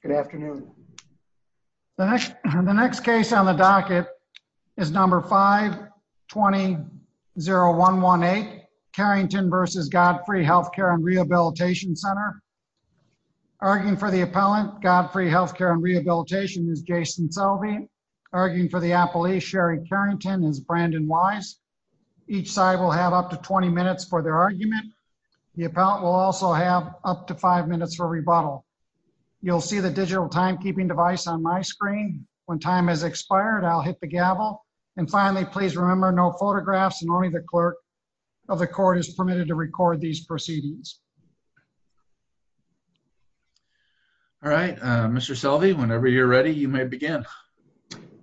Good afternoon. The next case on the docket is number 520-0118, Carrington v. Godfrey Healthcare & Rehabilitation Center. Arguing for the appellant, Godfrey Healthcare & Rehabilitation, is Jason Selvey. Arguing for the appellee, Sherry Carrington, is Brandon Wise. Each side will have up to 20 minutes for their argument. The appellant will also have up to 5 minutes for rebuttal. You'll see the digital timekeeping device on my screen. When time has expired, I'll hit the gavel. And finally, please remember, no photographs and only the clerk of the court is permitted to record these proceedings. All right, Mr. Selvey, whenever you're ready, you may begin.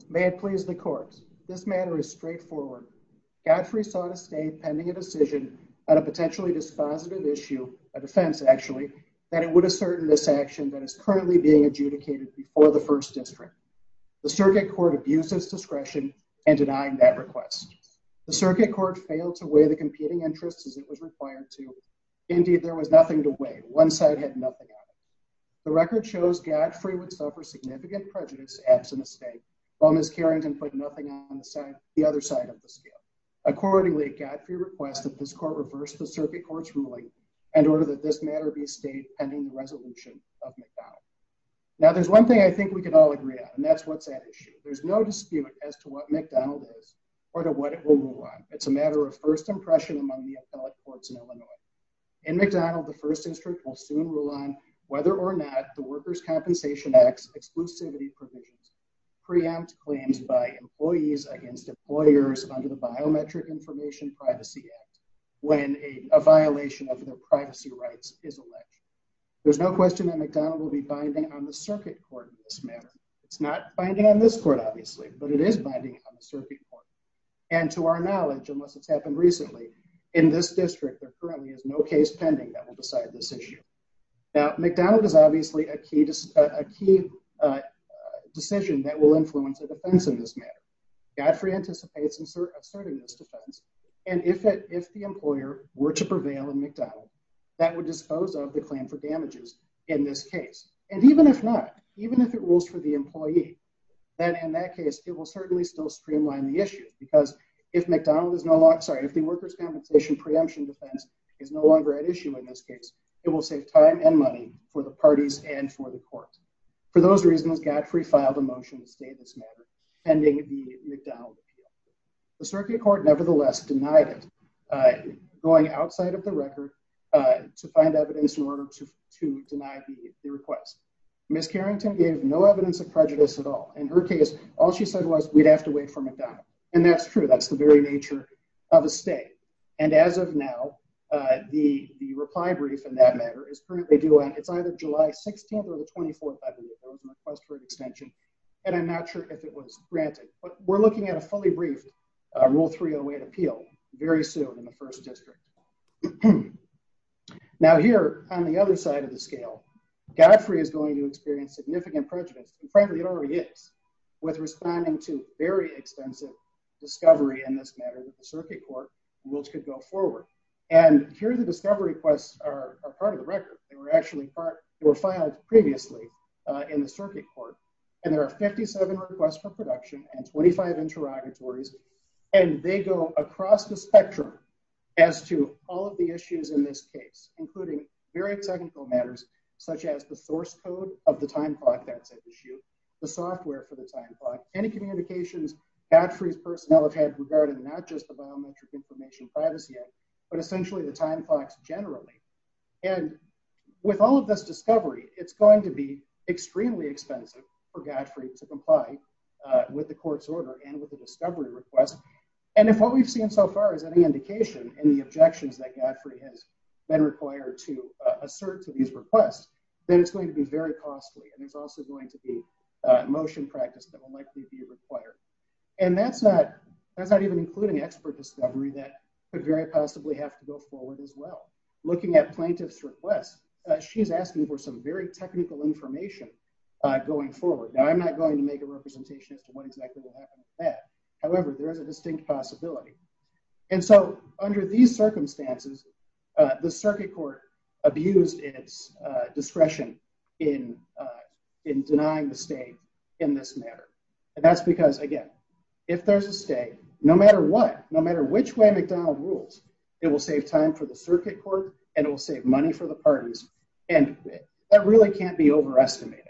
May it please the court, this matter is straightforward. Godfrey sought to stay pending a decision on a potentially dispositive issue, a defense actually, that it would assert in this action that is currently being adjudicated before the First District. The circuit court abused its discretion in denying that request. The circuit court failed to weigh the competing interests as it was required to. Indeed, there was nothing to weigh. One side had nothing on it. The record shows Godfrey would suffer significant prejudice absent a state, while Ms. Carrington put nothing on the other side of the scale. Accordingly, Godfrey requests that this court reverse the circuit court's ruling and order that this matter be stayed pending the resolution of McDonald. Now, there's one thing I think we can all agree on, and that's what's at issue. There's no dispute as to what McDonald is or to what it will rule on. It's a matter of first impression among the appellate courts in Illinois. In McDonald, the First District will soon rule on whether or not the Workers' Compensation Act's exclusivity provisions preempt claims by employees against employers under the Biometric Information Privacy Act when a violation of their privacy rights is alleged. There's no question that McDonald will be binding on the circuit court in this matter. It's not binding on this court, obviously, but it is binding on the circuit court. And to our knowledge, unless it's happened recently, in this district, there currently is no case pending that will decide this issue. Now, McDonald is obviously a key decision that will influence the defense of this matter. Godfrey anticipates asserting this defense, and if the employer were to prevail in McDonald, that would dispose of the claim for damages in this case. And even if not, even if it rules for the employee, then in that case, it will certainly still streamline the issue because if McDonald is no longer, sorry, if the Workers' Compensation preemption defense is no longer at issue in this case, it will save time and money for the parties and for the court. For those reasons, Godfrey filed a motion to stay in this matter pending the McDonald appeal. The circuit court nevertheless denied it, going outside of the record to find evidence in order to deny the request. Ms. Carrington gave no evidence of prejudice at all. In her case, all she said was we'd have to wait for McDonald. And that's true. That's the very nature of a stay. And as of now, the reply brief in that matter is currently due on, it's either July 16th or the 24th, a request for an extension, and I'm not sure if it was granted. But we're looking at a fully briefed Rule 308 appeal very soon in the first district. Now here on the other side of the scale, Godfrey is going to experience significant prejudice, and frankly it already is, with responding to very extensive discovery in this matter that the circuit court rules could go forward. And here the discovery requests are part of the record. They were actually part, they were filed previously in the circuit court, and there are 57 requests for production and 25 interrogatories, and they go across the spectrum as to all of the issues in this case, including very technical matters such as the source code of the time clock that's at issue, the software for the time clock, any communications Godfrey's personnel have had regarding not just the It's going to be extremely expensive for Godfrey to comply with the court's order and with the discovery request. And if what we've seen so far is any indication in the objections that Godfrey has been required to assert to these requests, then it's going to be very costly, and there's also going to be motion practice that will likely be required. And that's not even including expert discovery that could very possibly have to go forward as well. Looking at plaintiff's requests, she's asking for some very technical information going forward. Now, I'm not going to make a representation as to what exactly will happen with that. However, there is a distinct possibility. And so under these circumstances, the circuit court abused its discretion in denying the state in this matter. And that's because, again, if there's a state, no matter what, no matter which McDonald rules, it will save time for the circuit court, and it will save money for the parties. And that really can't be overestimated.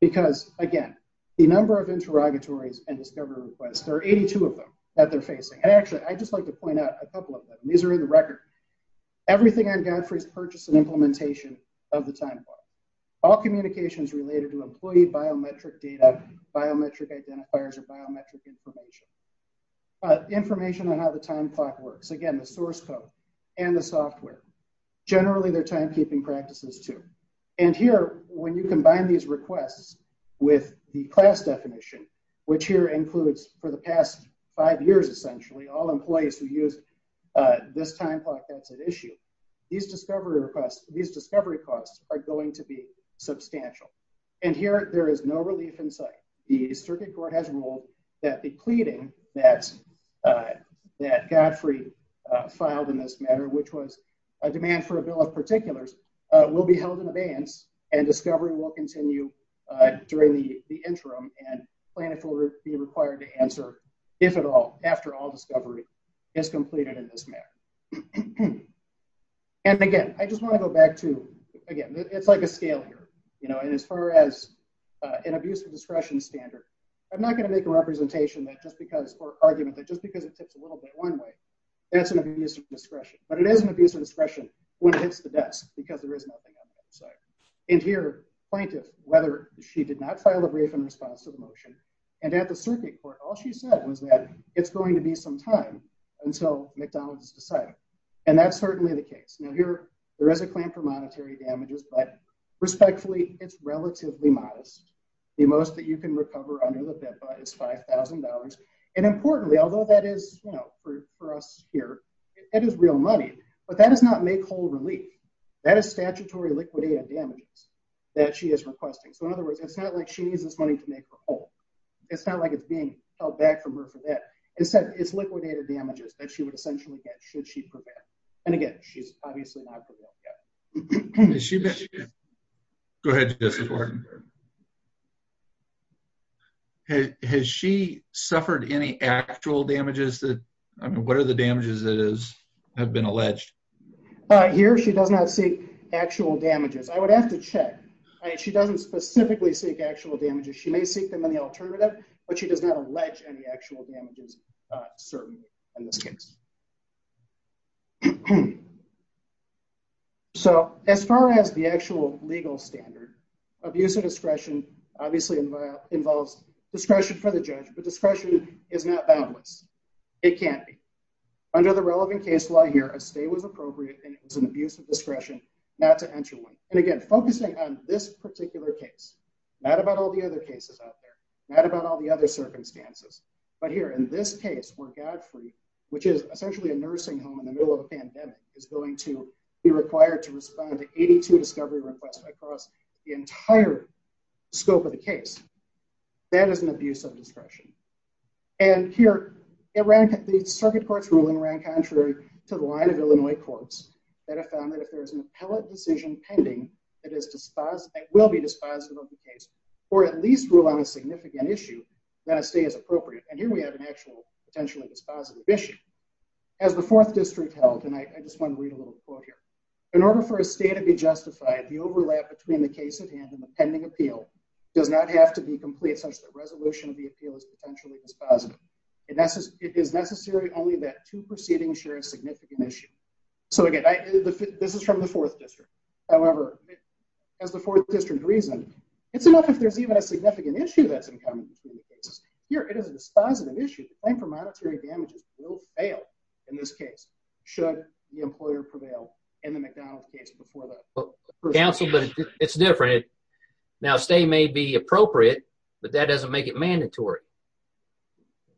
Because again, the number of interrogatories and discovery requests, there are 82 of them that they're facing. And actually, I just like to point out a couple of them. These are in the record. Everything on Godfrey's purchase and implementation of the timeline. All communications related to employee biometric data, biometric identifiers, or biometric information. Information on how the time clock works. Again, the source code and the software. Generally, their timekeeping practices too. And here, when you combine these requests with the class definition, which here includes for the past five years, essentially, all employees who use this time clock that's at issue, these discovery costs are going to be substantial. And here, there is no relief in sight. The circuit court has ruled that the pleading that Godfrey filed in this matter, which was a demand for a bill of particulars, will be held in advance and discovery will continue during the interim. And plaintiffs will be required to answer, if at all, after all discovery is completed in this matter. And again, I just want to go back to, again, it's like a scale here. And as far as an abuse of discretion standard, I'm not going to make a representation that just because, or argument that just because it tips a little bit one way, that's an abuse of discretion. But it is an abuse of discretion when it hits the desk, because there is nothing on the other side. And here, plaintiff, whether she did not file a brief in response to the motion, and at the circuit court, all she said was that it's going to be some time until McDonald's is decided. And that's certainly the case. Now here, there is a claim for monetary damages, but respectfully, it's relatively modest. The most that you can recover under the PIPA is $5,000. And importantly, although that is, you know, for us here, it is real money, but that does not make whole relief. That is statutory liquidated damages that she is requesting. So in other words, it's not like she needs this money to make her whole. It's not like it's being held back from her for that. Instead, it's liquidated damages that she would essentially get should she prevail. And again, she's obviously not prevailing yet. Go ahead, Justice Wharton. Has she suffered any actual damages that, I mean, what are the damages that have been alleged? Here, she does not seek actual damages. I would have to check. She doesn't specifically seek actual damages. She may seek them in the alternative, but she does not allege any in this case. So as far as the actual legal standard, abuse of discretion obviously involves discretion for the judge, but discretion is not boundless. It can't be. Under the relevant case law here, a stay was appropriate and it was an abuse of discretion not to enter one. And again, focusing on this particular case, not about all the other cases out there, not about all the other which is essentially a nursing home in the middle of a pandemic is going to be required to respond to 82 discovery requests across the entire scope of the case. That is an abuse of discretion. And here, the circuit court's ruling ran contrary to the line of Illinois courts that have found that if there is an appellate decision pending, it will be dispositive of the case or at least rule on a significant issue that a stay is appropriate. And here we have an actual potentially dispositive issue. As the fourth district held, and I just want to read a little quote here. In order for a stay to be justified, the overlap between the case at hand and the pending appeal does not have to be complete such that resolution of the appeal is potentially dispositive. It is necessary only that two proceedings share a significant issue. So again, this is from the fourth district. However, as the fourth district reasoned, it's enough if there's even a significant issue that's in common between the cases. Here, it is a dispositive issue. The claim for monetary damages will fail in this case should the employer prevail in the McDonald case before that. Counsel, but it's different. Now, stay may be appropriate, but that doesn't make it mandatory.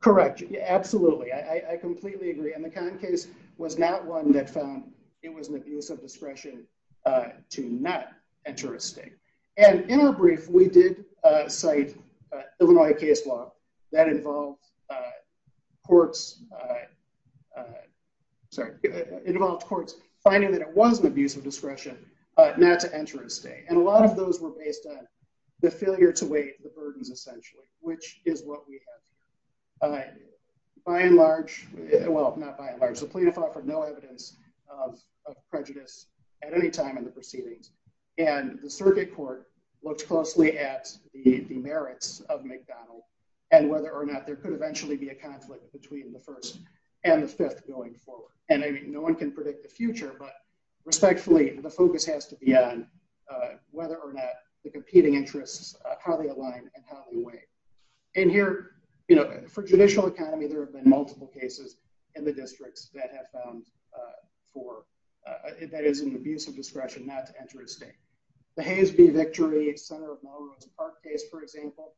Correct. Absolutely. I completely agree. And the Kahn case was not one that found it was an abuse of discretion to not enter a stay. And in our courts, sorry, it involved courts finding that it was an abuse of discretion not to enter a stay. And a lot of those were based on the failure to weigh the burdens essentially, which is what we have. By and large, well, not by and large, the plaintiff offered no evidence of prejudice at any time in the proceedings. And the circuit court looked closely at the merits of McDonald and whether or not there could eventually be a conflict between the first and the fifth going forward. And I mean, no one can predict the future, but respectfully, the focus has to be on whether or not the competing interests, how they align and how they weigh. And here, you know, for judicial economy, there have been multiple cases in the districts that have found for that is an abuse of discretion not to enter a state. The Hays v. Victory, Center of Melrose Park case, for example,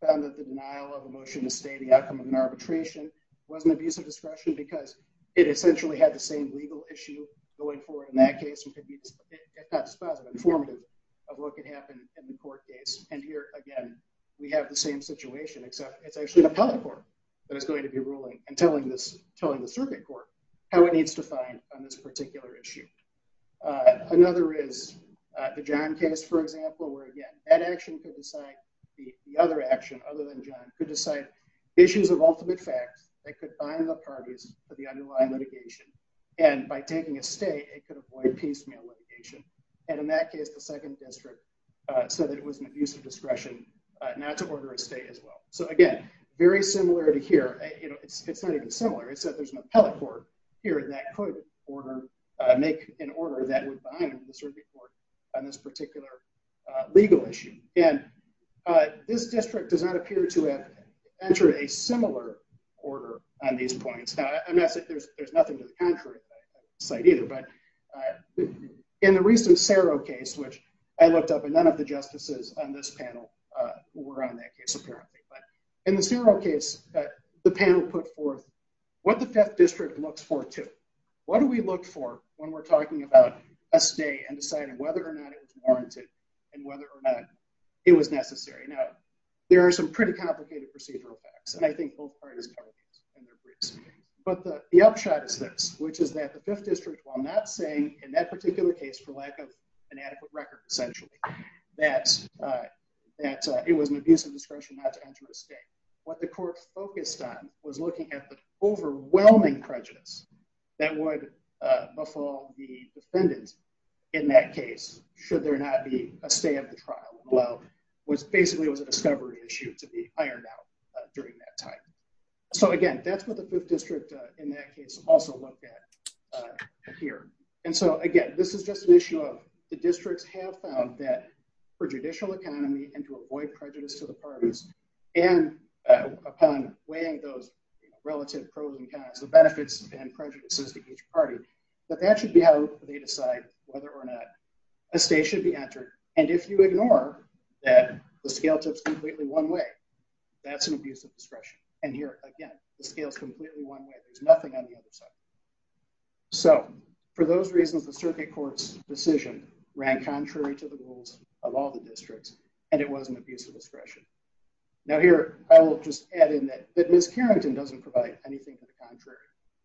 found that the denial of a motion to stay the outcome of an arbitration was an abuse of discretion because it essentially had the same legal issue going forward in that case, which could be informative of what could happen in the court case. And here, again, we have the same situation, except it's actually the public court that is going to be ruling and telling the circuit court how it needs to find on this particular issue. Another is the John case, for example, where again, that action could decide the other action other than John could decide issues of ultimate fact that could bind the parties for the underlying litigation. And by taking a state, it could avoid piecemeal litigation. And in that case, the second district said that it was an abuse of discretion not to order a state as well. So again, very similar to here, you know, it's not even similar. It's that there's an appellate court here that could order, make an order that would bind the circuit court on this particular legal issue. And this district does not appear to have entered a similar order on these points. Now, I'm not saying there's nothing to the contrary side either. But in the recent Cerro case, which I looked up, and none of the justices on this panel were on that case, apparently. But in the panel put forth what the fifth district looks forward to, what do we look for when we're talking about a state and deciding whether or not it was warranted, and whether or not it was necessary. Now, there are some pretty complicated procedural facts. And I think both parties. But the upshot is this, which is that the fifth district while not saying in that particular case, for lack of an adequate record, essentially, that that it was an abuse of discretion not to was looking at the overwhelming prejudice that would befall the defendant. In that case, should there not be a stay of the trial? Well, was basically was a discovery issue to be ironed out during that time. So again, that's what the district in that case also looked at here. And so again, this is just an issue of the districts have found that for judicial economy and to avoid prejudice to the parties, and upon weighing those relative pros and cons, the benefits and prejudices to each party, that that should be how they decide whether or not a state should be entered. And if you ignore that the scale tips completely one way, that's an abuse of discretion. And here, again, the scale is completely one way, there's nothing on the other side. So for those reasons, the circuit court's decision ran contrary to the rules of all the districts, and it was an abuse of discretion. Now here, I will just add in that that Miss Carrington doesn't provide anything to the contrary.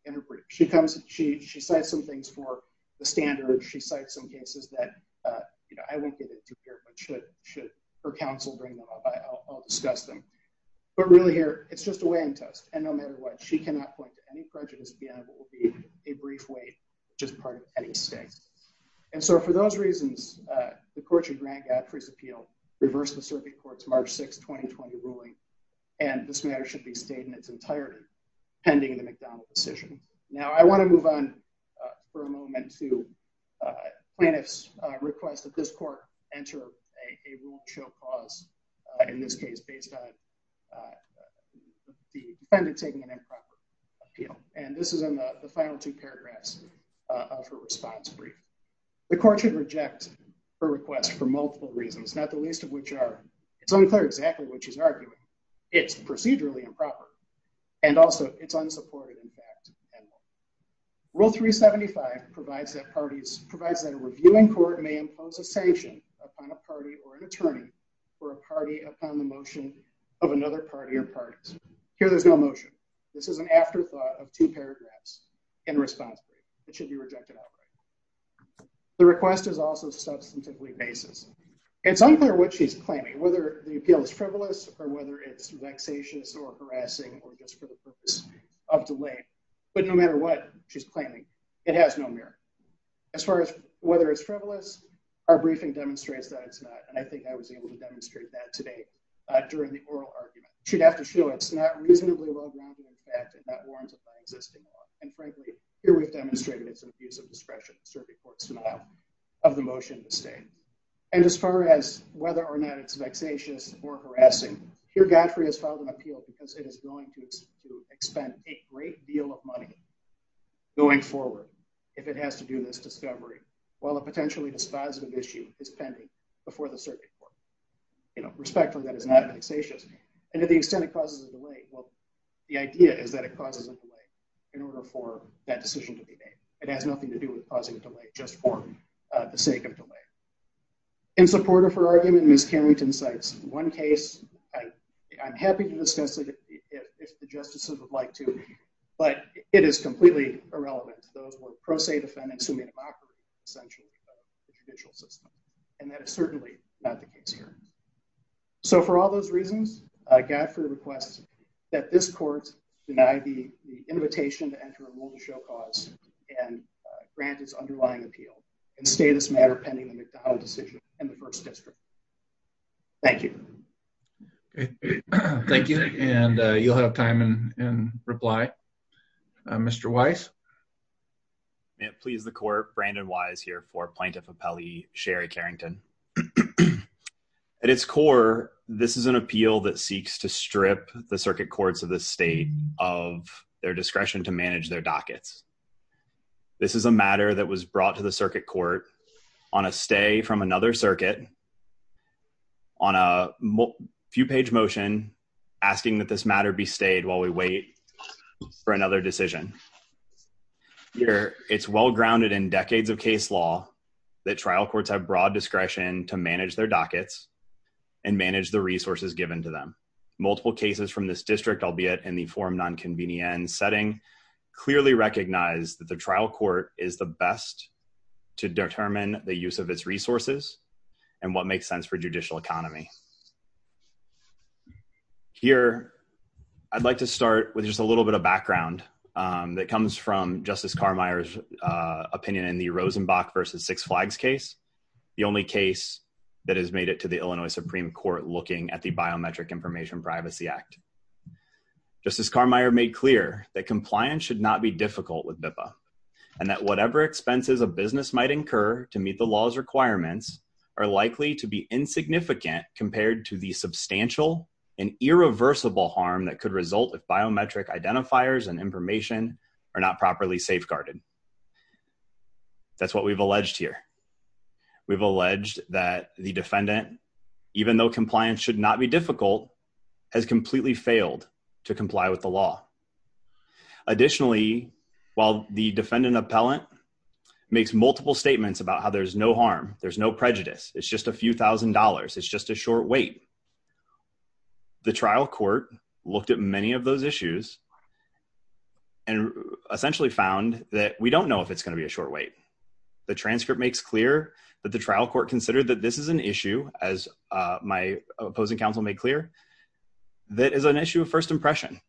In her brief, she comes, she says some things for the standard, she cites some cases that, you know, I won't get into here, but should should her counsel bring them up, I'll discuss them. But really here, it's just a weighing test. And no matter what, she cannot point to any prejudice that will be a brief weight, just part of any state. And so for those reasons, the court should grant Godfrey's appeal, reverse the circuit court's March 6, 2020 ruling. And this matter should be stayed in its entirety, pending the McDonnell decision. Now I want to move on for a moment to plaintiffs request that this court enter a rule show cause, in this case, based on the defendant taking an improper appeal. And this is in the final two paragraphs of her response brief. The court should reject her request for multiple reasons, not the least of which are, it's unclear exactly what she's arguing. It's procedurally improper. And also it's unsupported in fact. Rule 375 provides that parties provides that a reviewing court may impose a sanction upon a party or an attorney for a party upon the motion of another party or parties. Here there's no motion. This is an afterthought of two paragraphs in response. It should be rejected outright. The request is also substantively basis. It's unclear what she's claiming, whether the appeal is frivolous or whether it's vexatious or harassing or just for the purpose of delay. But no matter what she's claiming, it has no merit. As far as whether it's frivolous, our briefing demonstrates that it's not. And I think I was able to demonstrate that today during the oral argument. She'd have to show it's not reasonably well-grounded in fact and not warranted by existing law. And frankly, here we've demonstrated it's an abuse of discretion. Survey court's denial of the motion to stay. And as far as whether or not it's vexatious or harassing, here Godfrey has filed an appeal because it is going to expend a great deal of money going forward if it has to do this discovery while a potentially dispositive issue is pending before the survey court. Respectfully, that is not vexatious. And to the extent it causes a delay, well, the idea is that it causes a delay in order for that decision to be made. It has nothing to do with causing a delay, just for the sake of delay. In support of her argument, Ms. Carrington cites one case. I'm happy to discuss it if the justices would like to, but it is completely irrelevant to those who are pro se defendants who may have operated essentially under the judicial system. And that is certainly not the case here. So for all those reasons, Godfrey requests that this court deny the invitation to enter a rule to show cause and grant its underlying appeal and stay this matter pending the McDowell decision in the first district. Thank you. Thank you, and you'll have time and reply. Mr. Wise. May it please the court, Brandon Wise here for plaintiff appellee Sherry Carrington. At its core, this is an appeal that seeks to strip the circuit courts of the state of their discretion to manage their dockets. This is a matter that was brought to the circuit court on a stay from another circuit, on a few page motion, asking that this matter be stayed while we wait for another decision. Here, it's well grounded in decades of case law that trial courts have broad discretion to manage their dockets and manage the resources given to them. Multiple cases from this district, albeit in the form nonconvenient setting, clearly recognize that the trial court is the best to determine the use of its resources and what makes sense for judicial economy. Here, I'd like to start with just a little bit of background that comes from Justice Carmeier's opinion in the Rosenbach versus Six Flags case, the only case that has made it to the Illinois Supreme Court looking at the Biometric Information Privacy Act. Justice Carmeier made clear that compliance should not be difficult with BIPA and that whatever expenses a business might incur to meet the law's requirements are likely to be insignificant compared to the substantial and irreversible harm that could result if biometric identifiers and information are not properly safeguarded. That's what we've alleged here. We've alleged that the defendant, even though compliance should not be difficult, has completely failed to comply with the law. Additionally, while the defendant appellant makes multiple statements about how there's no harm, there's no prejudice, it's just a few thousand dollars, it's just a short wait, the trial court looked at many of those issues and essentially found that we don't know if it's going to be a short wait. The transcript makes clear that the trial court considered that this is an issue, as my opposing counsel made clear, that is an issue of first impression.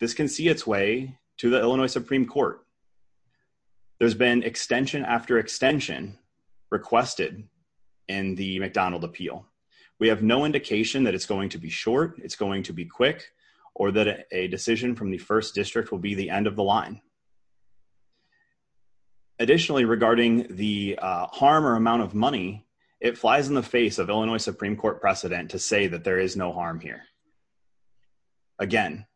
This can see its way to the Illinois Supreme Court. There's been extension after extension requested in the McDonald appeal. We have no indication that it's going to be short, it's going to be quick, or that a decision from the first district will be the end of the line. Additionally, regarding the harm or amount of money, it flies in the face of Illinois Supreme Court precedent to say that there is no harm here. Again,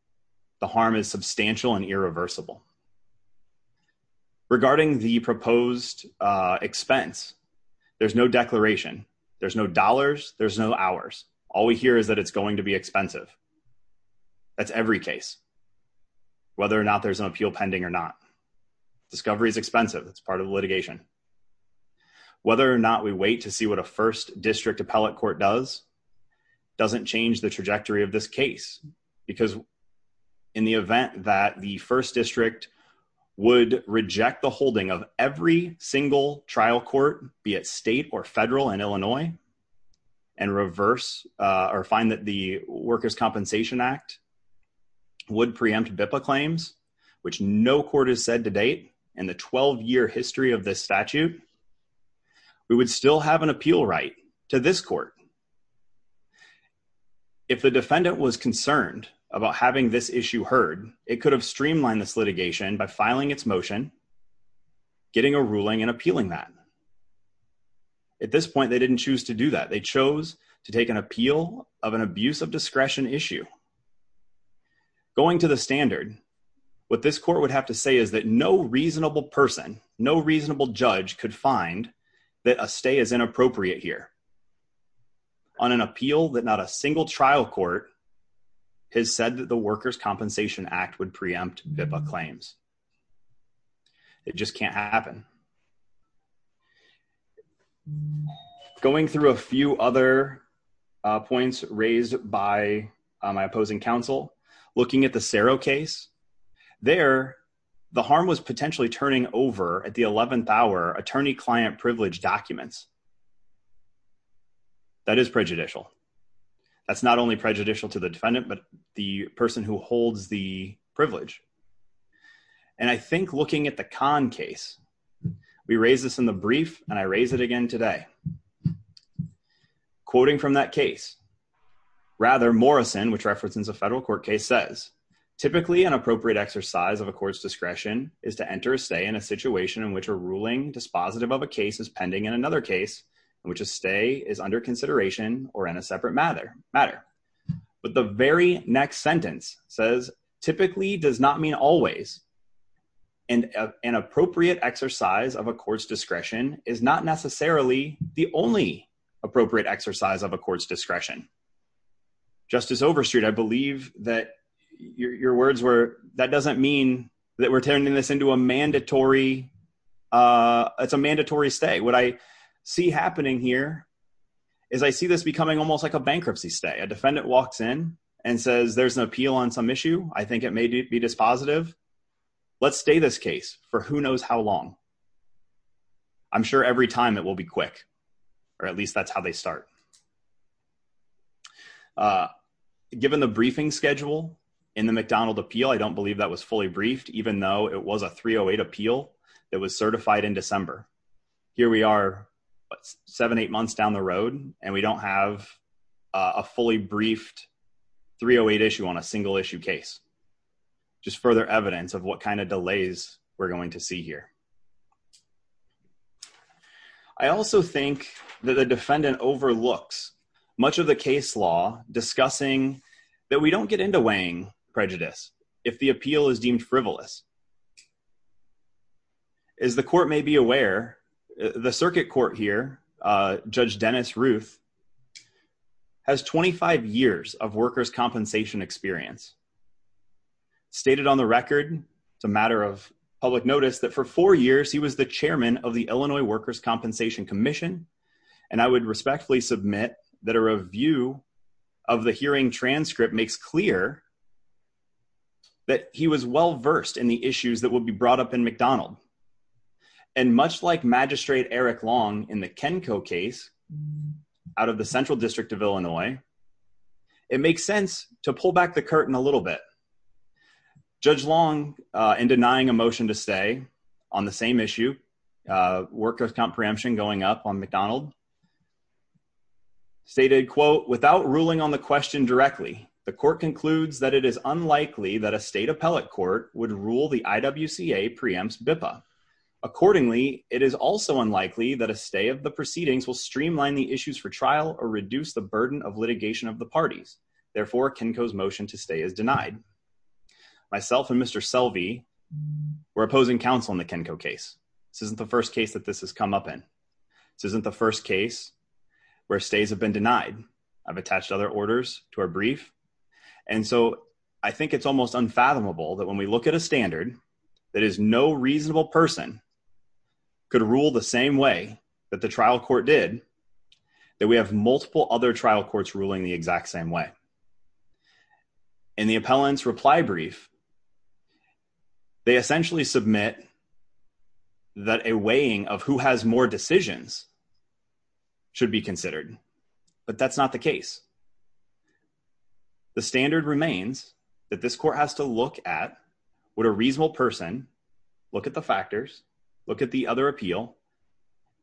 the harm is substantial and irreversible. Regarding the proposed expense, there's no declaration, there's no dollars, there's no hours. All we hear is that it's going to be expensive. That's every case, whether or not there's an appeal pending or not. Discovery is expensive, it's part of the litigation. Whether or not we wait to see what a first district appellate court does, doesn't change the trajectory of this case. Because in the event that the first district would reject the holding of every single trial court, be it state or federal in Illinois, and reverse or find that the Workers' Compensation Act would preempt BIPA claims, which no court has said to date in the 12-year history of this statute, we would still have an appeal right to this court. If the defendant was concerned about having this issue heard, it could have streamlined this litigation by filing its motion, getting a ruling, and appealing that. At this point, they didn't choose to do that. They chose to take an appeal of an abuse of discretion issue. Going to the standard, what this court would have to say is that no reasonable person, no reasonable judge could find that a stay is inappropriate here on an appeal that not a single trial court has said that the Workers' Compensation Act would preempt BIPA claims. It just can't happen. Going through a few other points raised by my opposing counsel, looking at the Serro case, there, the harm was potentially turning over at the 11th hour attorney-client privilege documents. That is prejudicial. That's not only prejudicial to the defendant, but the person who holds the and I think looking at the Kahn case, we raised this in the brief and I raise it again today. Quoting from that case, rather Morrison, which references a federal court case says, typically an appropriate exercise of a court's discretion is to enter a stay in a situation in which a ruling dispositive of a case is pending in another case in which a stay is under consideration or in a separate matter. But the very next sentence says, typically does not mean always, and an appropriate exercise of a court's discretion is not necessarily the only appropriate exercise of a court's discretion. Justice Overstreet, I believe that your words were, that doesn't mean that we're turning this into a mandatory, it's a mandatory stay. What I see happening here is I see this becoming almost like a bankruptcy stay. A defendant walks in and says, there's an appeal on some issue. I think it may be dispositive. Let's stay this case for who knows how long. I'm sure every time it will be quick, or at least that's how they start. Given the briefing schedule in the McDonald appeal, I don't believe that was fully briefed, even though it was a 308 appeal that was certified in December. Here we are, seven, eight months down the road, and we don't have a fully briefed 308 issue on a single issue case. Just further evidence of what kind of delays we're going to see here. I also think that the defendant overlooks much of the case law discussing that we don't get into weighing prejudice if the appeal is deemed frivolous. As the court may be aware, the circuit court here, Judge Dennis Ruth, has 25 years of workers' compensation experience. Stated on the record, it's a matter of public notice, that for four years he was the chairman of the Illinois Workers' Compensation Commission. I would respectfully submit that a review of the hearing transcript makes clear that he was well-versed in the issues that will be brought up in McDonald. And much like Magistrate Eric Long in the Kenko case out of the Central District of Illinois, it makes sense to pull back the curtain a little bit. Judge Long, in denying a motion to stay on the same issue, workers' comp preemption going up on McDonald, stated, without ruling on the question directly, the court concludes that it is unlikely that a state preempts BIPA. Accordingly, it is also unlikely that a stay of the proceedings will streamline the issues for trial or reduce the burden of litigation of the parties. Therefore, Kenko's motion to stay is denied. Myself and Mr. Selvey, we're opposing counsel in the Kenko case. This isn't the first case that this has come up in. This isn't the first case where stays have been denied. I've attached other orders to our brief. And so I think it's almost unfathomable that when we look at a standard that is no reasonable person could rule the same way that the trial court did, that we have multiple other trial courts ruling the exact same way. In the appellant's reply brief, they essentially submit that a weighing of who has more decisions should be would a reasonable person look at the factors, look at the other appeal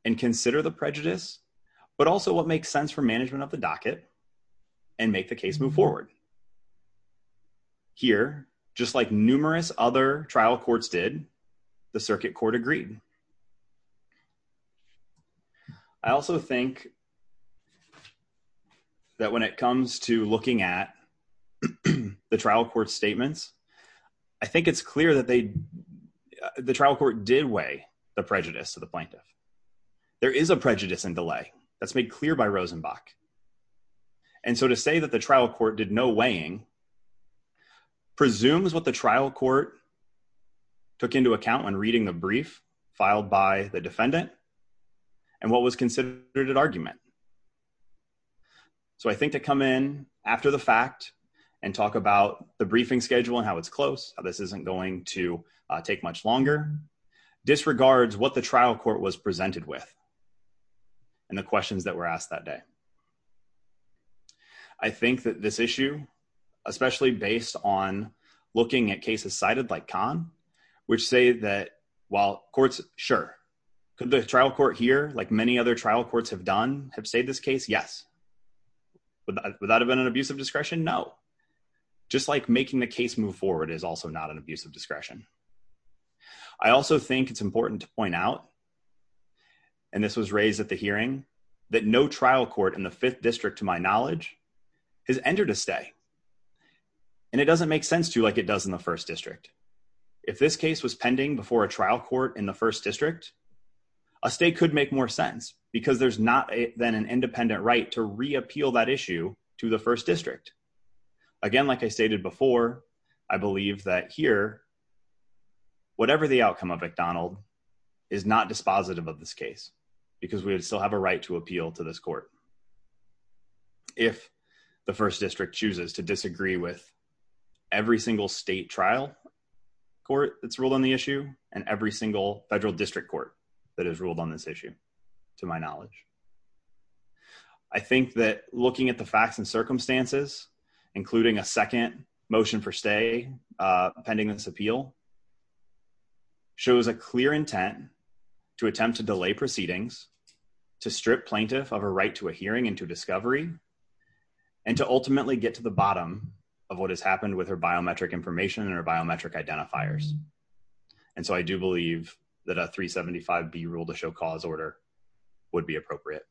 and consider the prejudice, but also what makes sense for management of the docket and make the case move forward. Here, just like numerous other trial courts did, the circuit court agreed. I also think that when it comes to looking at the trial court statements, I think it's clear that they, the trial court did weigh the prejudice to the plaintiff. There is a prejudice and delay that's made clear by Rosenbach. And so to say that the trial court did no weighing presumes what the trial court took into account when reading the brief filed by the defendant and what was considered an argument. So I think to come in after the fact and talk about the briefing schedule and how it's close, how this isn't going to take much longer, disregards what the trial court was presented with and the questions that were asked that day. I think that this issue, especially based on looking at cases cited like Kahn, which say that while courts, sure. Could the trial court here, like many other trial courts have done, have stayed this case? Yes. Would that have been an abuse of discretion? No. Just like making the case move forward is also not an abuse of discretion. I also think it's important to point out, and this was raised at the hearing, that no trial court in the fifth district, to my knowledge, has entered a stay. And it doesn't make sense to like it does in the first district. If this case was pending before a trial court in the first district, a state could make more sense because there's not then an independent right to reappeal that issue to the first district. Again, like I stated before, I believe that here, whatever the outcome of McDonald is not dispositive of this case, because we would still have a right to appeal to this court. If the first district chooses to disagree with every single state trial court that's ruled on the issue and every single federal district court that has ruled on this issue, to my knowledge. I think that looking at the facts and circumstances, including a second motion for stay, pending this appeal, shows a clear intent to attempt to delay proceedings, to strip plaintiff of a right to a hearing and to discovery, and to ultimately get to the bottom of what has happened with her biometric information and her biometric identifiers. And so I do believe that a 375B rule to show cause order would be appropriate.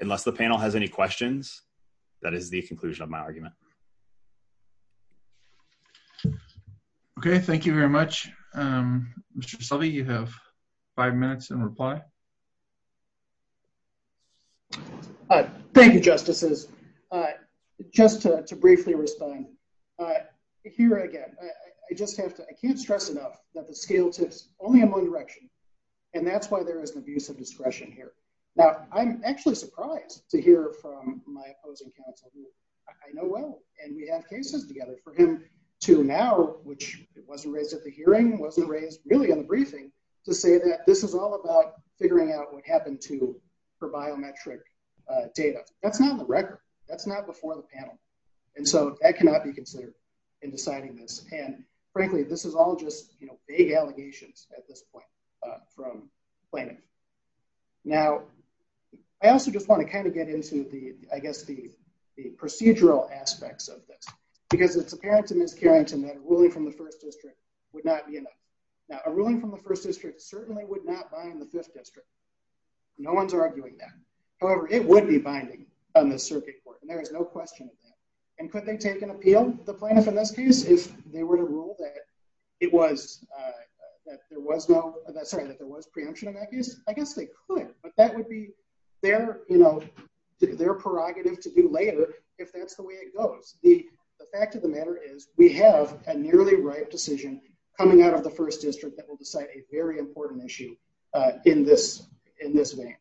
Unless the panel has any questions, that is the conclusion of my argument. Okay, thank you very much. Mr. Selvey, you have five minutes in reply. All right. Thank you, Justices. Just to briefly respond. Here again, I just have to, I can't stress enough that the scale tips only in one direction. And that's why there is an abuse of discretion here. Now, I'm actually surprised to hear from my opposing counsel, who I know well, and we have cases together for him to now, which wasn't raised at the hearing, wasn't raised really in the briefing, to say that this is all about figuring out what happened to her biometric data. That's not in the record. That's not before the panel. And so that cannot be considered in deciding this. And frankly, this is all just, you know, big allegations at this point from plaintiff. Now, I also just want to kind of get into the, I guess, the procedural aspects of this, because it's apparent to Ms. Carrington that a ruling from the first district would not be Now, a ruling from the first district certainly would not bind the fifth district. No one's arguing that. However, it would be binding on the circuit court. And there is no question of that. And could they take an appeal, the plaintiff in this case, if they were to rule that it was, that there was no, sorry, that there was preemption in that case? I guess they could, but that would be their, you know, their prerogative to do later, if that's the way it that will decide a very important issue in this way.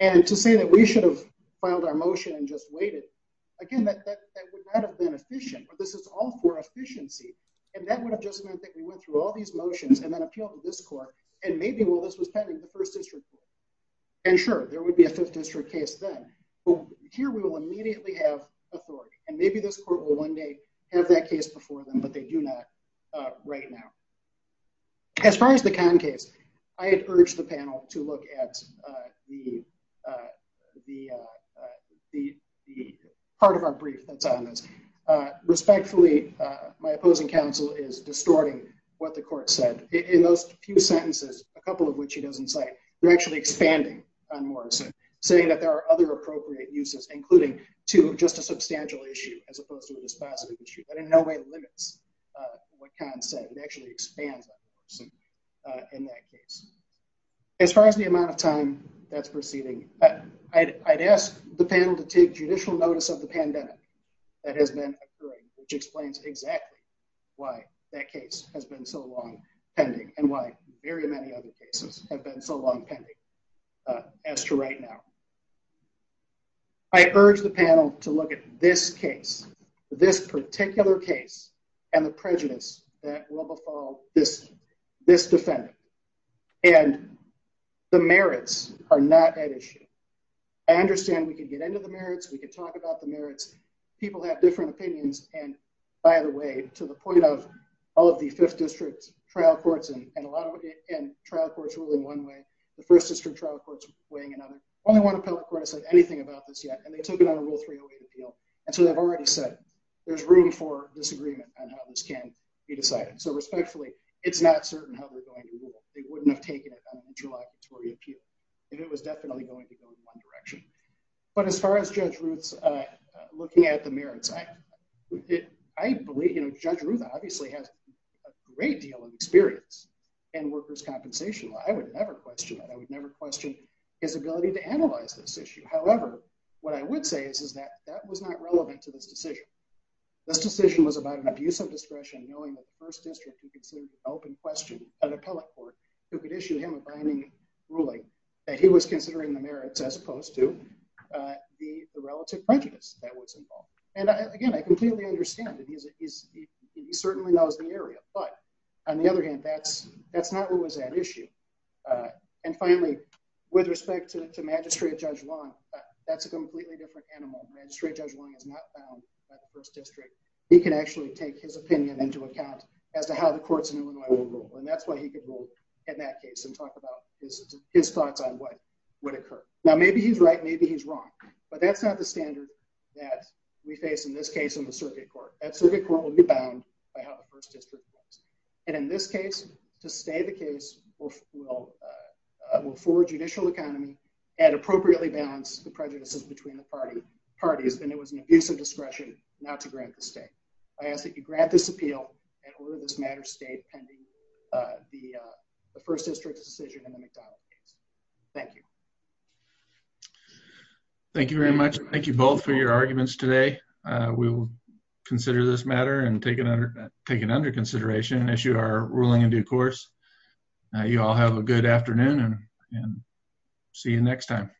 And to say that we should have filed our motion and just waited, again, that would not have been efficient, but this is all for efficiency. And that would have just meant that we went through all these motions and then appealed to this court. And maybe, well, this was pending the first district court. And sure, there would be a fifth district case then. Well, here we will immediately have authority. And maybe this court will one day have that case before them, but they do not right now. As far as the con case, I had urged the panel to look at the part of our brief that's on this. Respectfully, my opposing counsel is distorting what the court said. In those few sentences, a couple of which he doesn't cite, they're actually expanding on Morrison, saying that there are other appropriate uses, including to just a substantial issue, as opposed to this positive issue that in no way limits what con said. It actually expands on Morrison in that case. As far as the amount of time that's proceeding, I'd ask the panel to take judicial notice of the pandemic that has been occurring, which explains exactly why that case has been so long pending and why very many other cases have been so long pending as to right now. I urge the panel to look at this case, this particular case, and the prejudice that will befall this defendant. And the merits are not at issue. I understand we can get into the merits, we can talk about the merits. People have different opinions. And by the way, to the end, trial courts rule in one way, the first district trial court's weighing another. Only one appellate court has said anything about this yet, and they took it on a Rule 308 appeal. And so they've already said, there's room for disagreement on how this can be decided. So respectfully, it's not certain how they're going to rule. They wouldn't have taken it on an interlocutory appeal if it was definitely going to go in one direction. But as far as Judge Ruth's looking at the merits, I believe Judge Ruth obviously has a great deal of experience in workers' compensation law. I would never question that. I would never question his ability to analyze this issue. However, what I would say is that that was not relevant to this decision. This decision was about an abuse of discretion, knowing that the first district would consider the open question of an appellate court who could issue him a binding ruling that was considering the merits as opposed to the relative prejudice that was involved. And again, I completely understand that he certainly knows the area. But on the other hand, that's not what was at issue. And finally, with respect to Magistrate Judge Long, that's a completely different animal. Magistrate Judge Long is not bound by the first district. He can actually take his opinion into account as to how the courts in Illinois would rule. And that's why he could in that case and talk about his thoughts on what would occur. Now, maybe he's right, maybe he's wrong. But that's not the standard that we face in this case in the circuit court. That circuit court will be bound by how the first district works. And in this case, to stay the case will forward judicial economy and appropriately balance the prejudices between the parties. Then it was an abuse of discretion not to grant the state. I ask that you grab this the first district's decision in the McDonald case. Thank you. Thank you very much. Thank you both for your arguments today. We will consider this matter and take it under consideration and issue our ruling in due course. Now, you all have a good afternoon and see you next time.